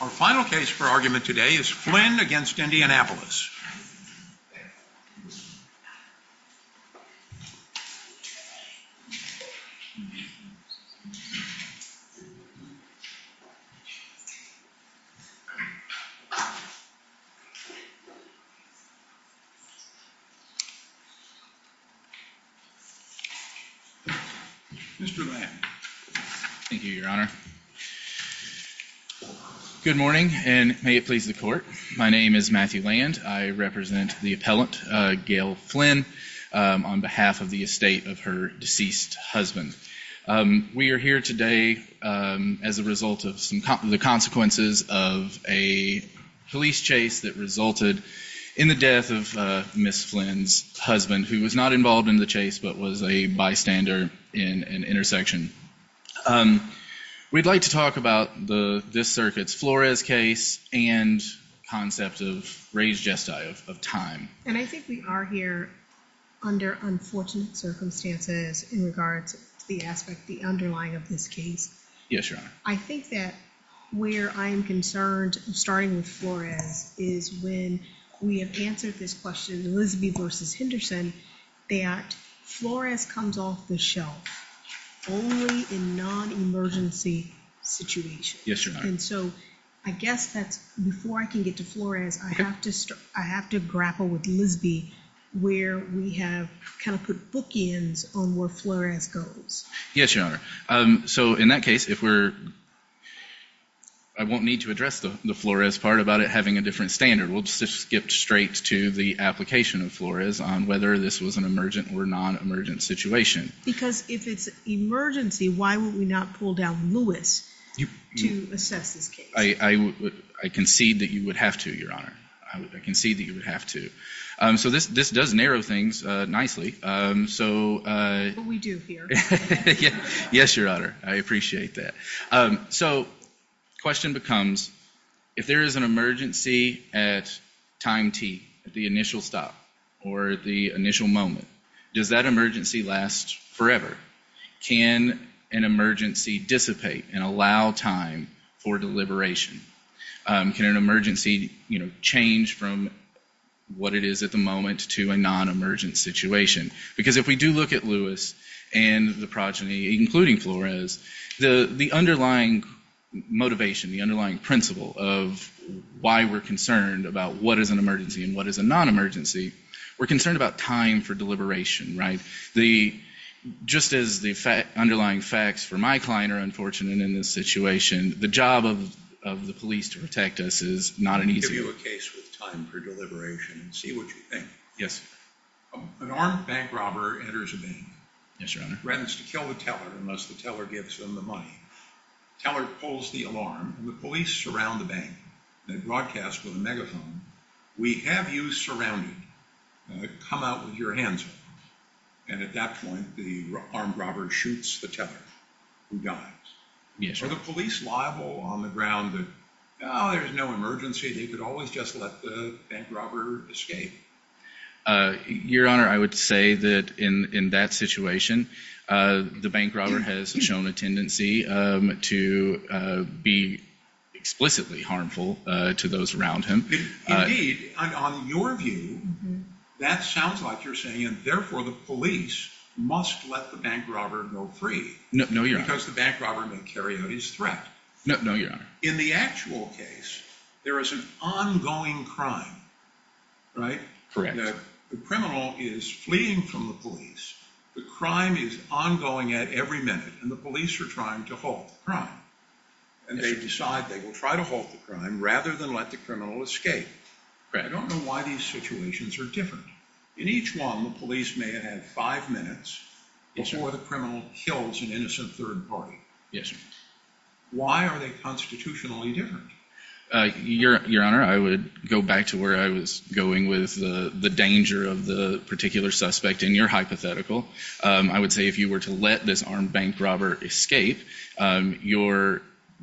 Our final case for argument today is Flynn v. Indianapolis. Mr. Lamb. Thank you, Your Honor. Good morning, and may it please the Court, my name is Matthew Lamb. I represent the appellant, Gayle Flynn, on behalf of the estate of her deceased husband. We are here today as a result of the consequences of a police chase that resulted in the death of Ms. Flynn's husband, who was not involved in the chase but was a bystander in an intersection. We'd like to talk about this circuit's Flores case and the concept of raised gestile, of time. And I think we are here under unfortunate circumstances in regards to the aspect, the underlying of this case. Yes, Your Honor. I think that where I'm concerned, starting with Flores, is when we have answered this question, Elizabeth v. Henderson, that Flores comes off the shelf only in non-emergency situations. And so I guess that's, before I can get to Flores, I have to grapple with Lisby, where we have kind of put bookends on where Flores goes. Yes, Your Honor. So in that case, if we're, I won't need to address the Flores part about it having a different standard. We'll just skip straight to the application of Flores on whether this was an emergent or non-emergent situation. Because if it's emergency, why would we not pull down Lewis to assess this case? I concede that you would have to, Your Honor. I concede that you would have to. So this does narrow things nicely. But we do here. Yes, Your Honor. I appreciate that. So the question becomes, if there is an emergency at time T, the initial stop, or the initial moment, does that emergency last forever? Can an emergency dissipate and allow time for deliberation? Can an emergency change from what it is at the moment to a non-emergent situation? Because if we do look at Lewis and the progeny, including Flores, the underlying motivation, the underlying principle of why we're concerned about what is an emergency and what is a non-emergency, we're concerned about time for deliberation, right? Just as the underlying facts for my client are unfortunate in this situation, the job of the police to protect us is not an easy one. Let me give you a case with time for deliberation and see what you think. Yes. An armed bank robber enters a bank. Yes, Your Honor. He threatens to kill the teller unless the teller gives him the money. The teller pulls the alarm, and the police surround the bank. They broadcast with a megaphone, We have you surrounded. Come out with your hands up. And at that point, the armed robber shoots the teller, who dies. Yes, Your Honor. Are the police liable on the ground that, oh, there's no emergency, they could always just let the bank robber escape? Your Honor, I would say that in that situation, the bank robber has shown a tendency to be explicitly harmful to those around him. Indeed, on your view, that sounds like you're saying, therefore, the police must let the bank robber go free. No, Your Honor. Because the bank robber may carry out his threat. No, Your Honor. In the actual case, there is an ongoing crime, right? Correct. The criminal is fleeing from the police. The crime is ongoing at every minute, and the police are trying to halt the crime. And they decide they will try to halt the crime rather than let the criminal escape. Correct. I don't know why these situations are different. In each one, the police may have had five minutes before the criminal kills an innocent third party. Yes, Your Honor. Why are they constitutionally different? Your Honor, I would go back to where I was going with the danger of the particular suspect in your hypothetical. I would say if you were to let this armed bank robber escape, you're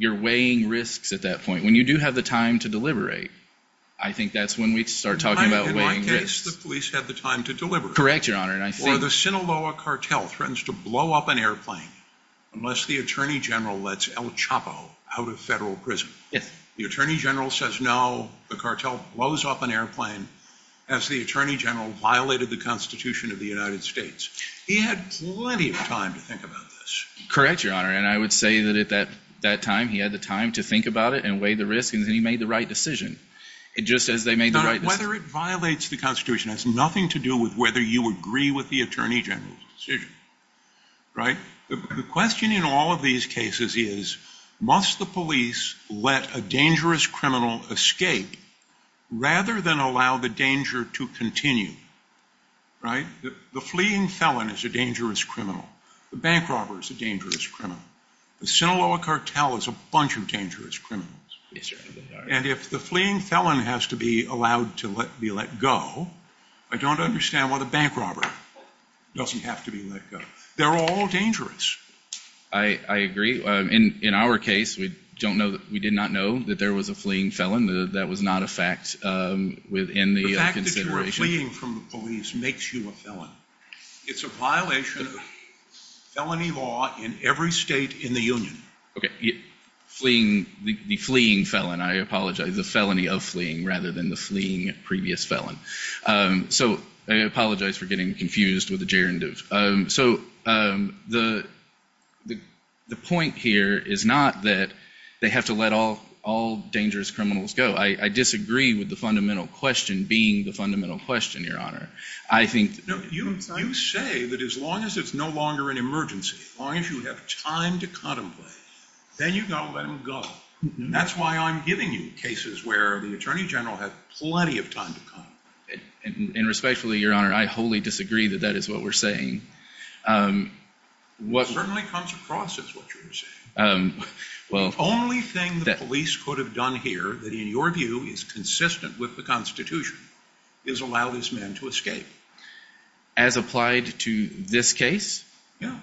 weighing risks at that point. When you do have the time to deliberate, I think that's when we start talking about weighing risks. In my case, the police had the time to deliberate. Correct, Your Honor. Or the Sinaloa cartel threatens to blow up an airplane unless the Attorney General lets El Chapo out of federal prison. Yes. The Attorney General says no. The cartel blows up an airplane as the Attorney General violated the Constitution of the United States. He had plenty of time to think about this. Correct, Your Honor. And I would say that at that time, he had the time to think about it and weigh the risks. And then he made the right decision, just as they made the right decision. Whether it violates the Constitution has nothing to do with whether you agree with the Attorney General's decision. Right? The question in all of these cases is, must the police let a dangerous criminal escape rather than allow the danger to continue? Right? The fleeing felon is a dangerous criminal. The bank robber is a dangerous criminal. The Sinaloa cartel is a bunch of dangerous criminals. Yes, Your Honor. And if the fleeing felon has to be allowed to be let go, I don't understand why the bank robber doesn't have to be let go. They're all dangerous. I agree. In our case, we did not know that there was a fleeing felon. That was not a fact within the consideration. The fact that you were fleeing from the police makes you a felon. It's a violation of felony law in every state in the Union. Okay. The fleeing felon. I apologize. The felony of fleeing rather than the fleeing previous felon. So I apologize for getting confused with the gerund. So the point here is not that they have to let all dangerous criminals go. I disagree with the fundamental question being the fundamental question, Your Honor. You say that as long as it's no longer an emergency, as long as you have time to contemplate, then you've got to let him go. That's why I'm giving you cases where the Attorney General had plenty of time to contemplate. And respectfully, Your Honor, I wholly disagree that that is what we're saying. It certainly comes across as what you're saying. The only thing the police could have done here that, in your view, is consistent with the Constitution is allow this man to escape. As applied to this case? Yes.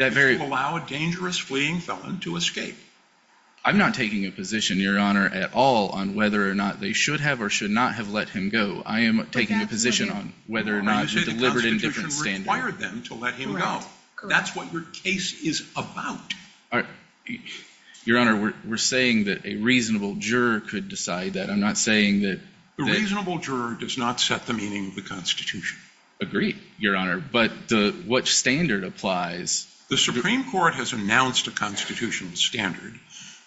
Allow a dangerous fleeing felon to escape. I'm not taking a position, Your Honor, at all on whether or not they should have or should not have let him go. I am taking a position on whether or not you delivered a different standard. The Constitution required them to let him go. That's what your case is about. Your Honor, we're saying that a reasonable juror could decide that. I'm not saying that— A reasonable juror does not set the meaning of the Constitution. Agreed, Your Honor. But what standard applies? The Supreme Court has announced a constitutional standard,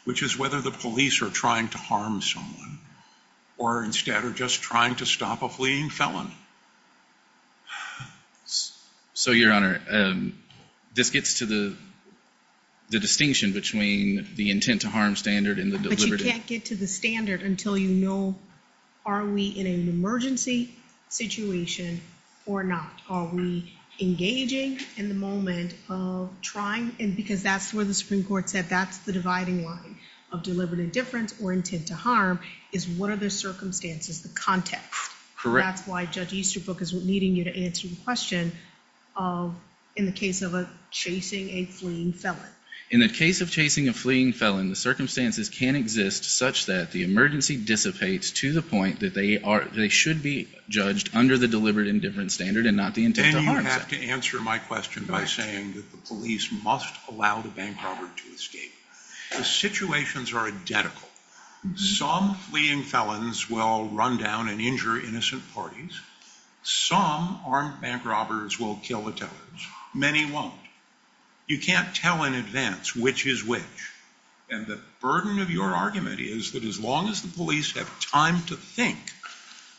which is whether the police are trying to harm someone or, instead, are just trying to stop a fleeing felon. So, Your Honor, this gets to the distinction between the intent to harm standard and the— But you can't get to the standard until you know are we in an emergency situation or not. Are we engaging in the moment of trying—because that's where the Supreme Court said that's the dividing line of deliberate indifference or intent to harm is what are the circumstances, the context. Correct. And that's why Judge Easterbrook is needing you to answer the question in the case of chasing a fleeing felon. In the case of chasing a fleeing felon, the circumstances can exist such that the emergency dissipates to the point that they should be judged under the deliberate indifference standard and not the intent to harm standard. And you have to answer my question by saying that the police must allow the bank robber to escape. The situations are identical. Some fleeing felons will run down and injure innocent parties. Some armed bank robbers will kill the tellers. Many won't. You can't tell in advance which is which. And the burden of your argument is that as long as the police have time to think,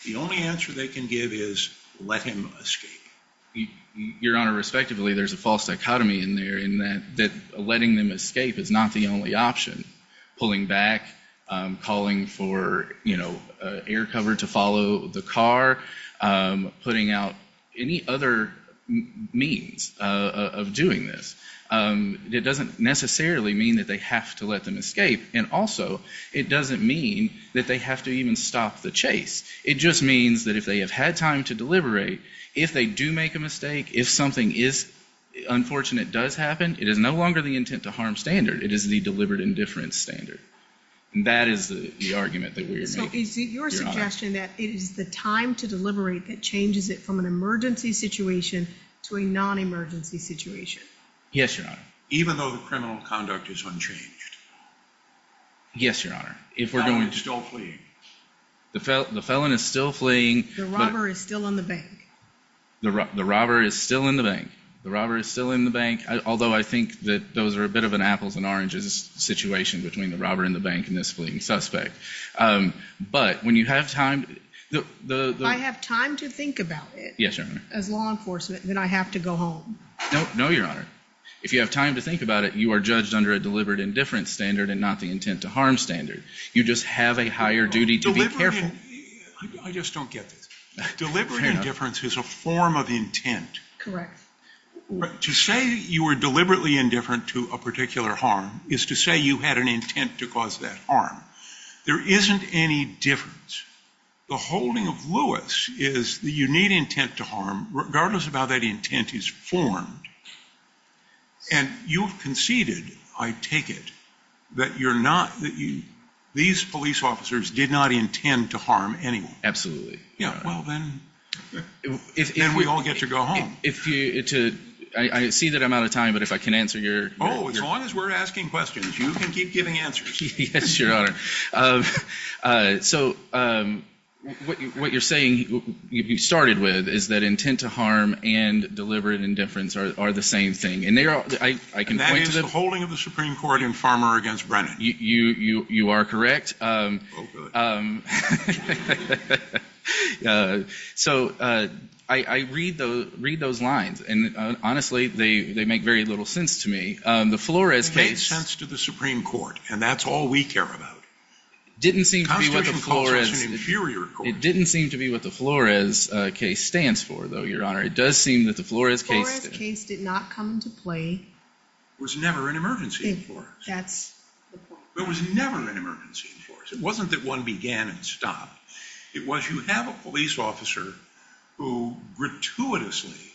the only answer they can give is let him escape. Your Honor, respectively, there's a false dichotomy in there in that letting them escape is not the only option. Pulling back, calling for air cover to follow the car, putting out any other means of doing this. It doesn't necessarily mean that they have to let them escape. And also, it doesn't mean that they have to even stop the chase. It just means that if they have had time to deliberate, if they do make a mistake, if something unfortunate does happen, it is no longer the intent to harm standard. It is the deliberate indifference standard. And that is the argument that we are making. So is it your suggestion that it is the time to deliberate that changes it from an emergency situation to a non-emergency situation? Yes, Your Honor. Even though the criminal conduct is unchanged? Yes, Your Honor. The felon is still fleeing. The felon is still fleeing. The robber is still in the bank. The robber is still in the bank. The robber is still in the bank. Although I think that those are a bit of an apples and oranges situation between the robber and the bank and this fleeing suspect. But when you have time... If I have time to think about it... Yes, Your Honor. ...as law enforcement, then I have to go home. No, Your Honor. If you have time to think about it, you are judged under a deliberate indifference standard and not the intent to harm standard. You just have a higher duty to be careful. I just don't get this. Deliberate indifference is a form of intent. Correct. To say you were deliberately indifferent to a particular harm is to say you had an intent to cause that harm. There isn't any difference. The holding of Lewis is that you need intent to harm, regardless of how that intent is formed. And you've conceded, I take it, that you're not... These police officers did not intend to harm anyone. Absolutely. Then we all get to go home. I see that I'm out of time, but if I can answer your... Oh, as long as we're asking questions, you can keep giving answers. Yes, Your Honor. So what you're saying you started with is that intent to harm and deliberate indifference are the same thing. And that is the holding of the Supreme Court in Farmer v. Brennan. You are correct. Oh, good. So I read those lines, and honestly, they make very little sense to me. The Flores case... It made sense to the Supreme Court, and that's all we care about. It didn't seem to be what the Flores... The Constitution calls us an inferior court. It didn't seem to be what the Flores case stands for, though, Your Honor. It does seem that the Flores case... The Flores case did not come into play. It was never an emergency in Flores. That's the point. It was never an emergency in Flores. It wasn't that one began and stopped. It was you have a police officer who gratuitously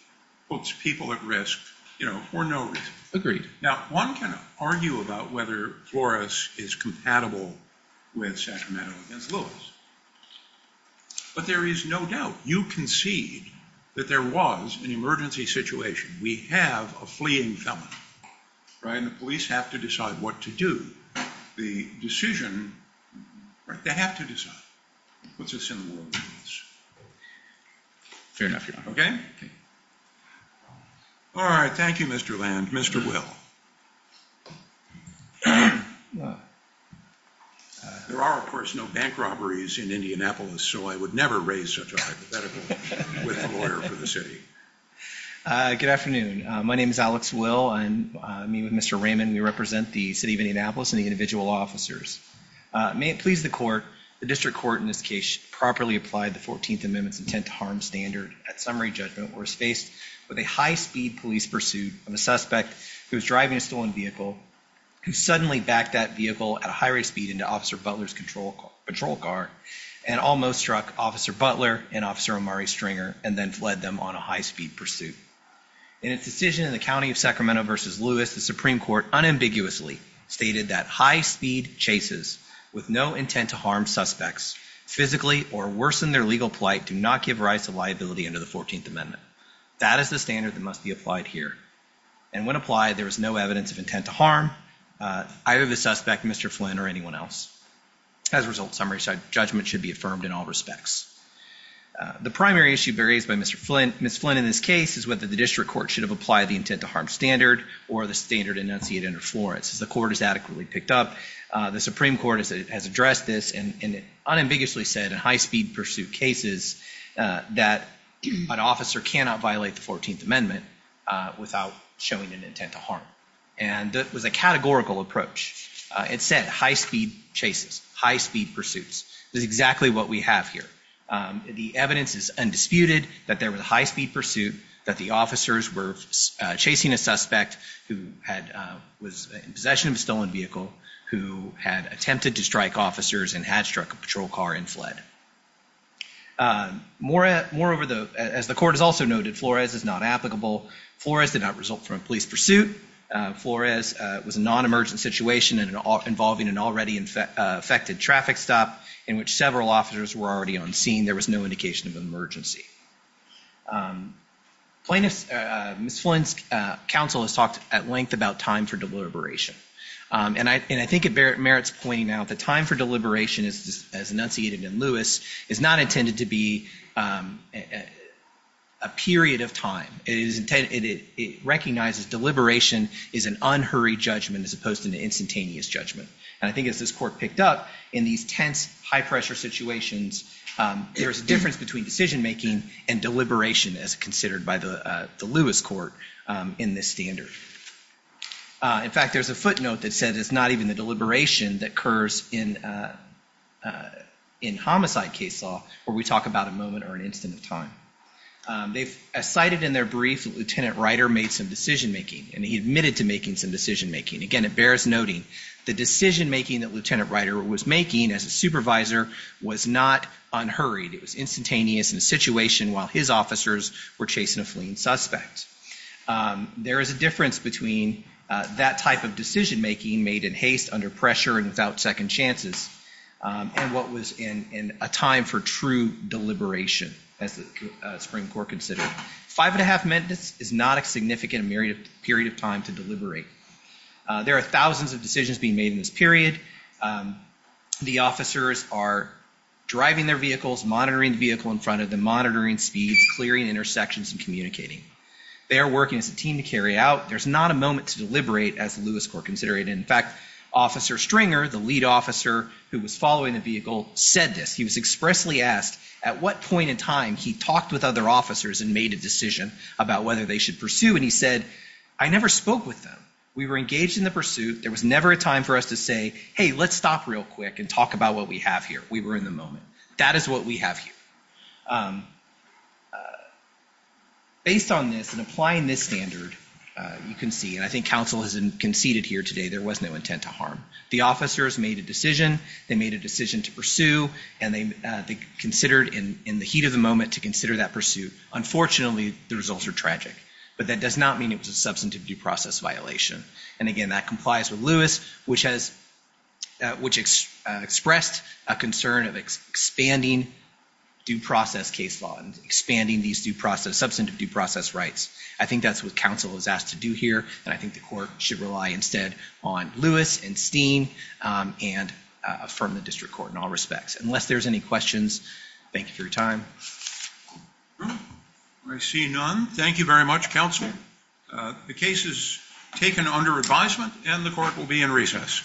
puts people at risk, you know, for no reason. Agreed. Now, one can argue about whether Flores is compatible with Sacramento v. Lillis, but there is no doubt. You concede that there was an emergency situation. We have a fleeing felon, right, and the police have to decide what to do. The decision... They have to decide what's a sin in the world of police. Fair enough, Your Honor. Okay? All right. Thank you, Mr. Land. Mr. Will. There are, of course, no bank robberies in Indianapolis, so I would never raise such a hypothetical with a lawyer for the city. Good afternoon. My name is Alex Will. I meet with Mr. Raymond. We represent the city of Indianapolis and the individual law officers. May it please the court, the district court in this case properly applied the 14th Amendment's intent to harm standard. That summary judgment was faced with a high-speed police pursuit of a suspect who was driving a stolen vehicle, who suddenly backed that vehicle at a high rate of speed into Officer Butler's patrol car and almost struck Officer Butler and Officer Omari Stringer and then fled them on a high-speed pursuit. In its decision in the county of Sacramento v. Lewis, the Supreme Court unambiguously stated that high-speed chases with no intent to harm suspects physically or worsen their legal plight do not give rights to liability under the 14th Amendment. That is the standard that must be applied here. And when applied, there is no evidence of intent to harm either the suspect, Mr. Flynn, or anyone else. As a result, summary judgment should be affirmed in all respects. The primary issue raised by Ms. Flynn in this case is whether the district court should have applied the intent to harm standard or the standard enunciated under Florence. As the court has adequately picked up, the Supreme Court has addressed this and unambiguously said in high-speed pursuit cases that an officer cannot violate the 14th Amendment without showing an intent to harm. And that was a categorical approach. It said high-speed chases, high-speed pursuits. This is exactly what we have here. The evidence is undisputed that there was a high-speed pursuit, that the officers were chasing a suspect who was in possession of a stolen vehicle, who had attempted to strike officers and had struck a patrol car and fled. Moreover, as the court has also noted, Flores is not applicable. Flores did not result from a police pursuit. Flores was a non-emergent situation involving an already-affected traffic stop in which several officers were already on scene. There was no indication of an emergency. Ms. Flynn's counsel has talked at length about time for deliberation. And I think it merits pointing out that time for deliberation, as enunciated in Lewis, is not intended to be a period of time. It recognizes deliberation is an unhurried judgment as opposed to an instantaneous judgment. And I think as this court picked up, in these tense, high-pressure situations, there is a difference between decision-making and deliberation, as considered by the Lewis court in this standard. In fact, there's a footnote that says it's not even the deliberation that occurs in homicide case law where we talk about a moment or an instant of time. They've cited in their brief that Lieutenant Ryder made some decision-making, and he admitted to making some decision-making. Again, it bears noting the decision-making that Lieutenant Ryder was making as a supervisor was not unhurried. It was instantaneous in a situation while his officers were chasing a fleeing suspect. There is a difference between that type of decision-making made in haste, under pressure, and without second chances, and what was in a time for true deliberation, as the Supreme Court considered. Five and a half minutes is not a significant period of time to deliberate. There are thousands of decisions being made in this period. The officers are driving their vehicles, monitoring the vehicle in front of them, monitoring speeds, clearing intersections, and communicating. They are working as a team to carry out. There's not a moment to deliberate, as the Lewis court considered. In fact, Officer Stringer, the lead officer who was following the vehicle, said this. He was expressly asked at what point in time he talked with other officers and made a decision about whether they should pursue, and he said, I never spoke with them. We were engaged in the pursuit. There was never a time for us to say, hey, let's stop real quick and talk about what we have here. We were in the moment. That is what we have here. Based on this and applying this standard, you can see, and I think counsel has conceded here today, there was no intent to harm. The officers made a decision. They made a decision to pursue, and they considered in the heat of the moment to consider that pursuit. Unfortunately, the results are tragic. But that does not mean it was a substantive due process violation. And again, that complies with Lewis, which expressed a concern of expanding due process case law and expanding these substantive due process rights. I think that's what counsel was asked to do here, and I think the court should rely instead on Lewis and Steen and affirm the district court in all respects. Unless there's any questions, thank you for your time. I see none. Thank you very much, counsel. The case is taken under advisement, and the court will be in recess. Thank you.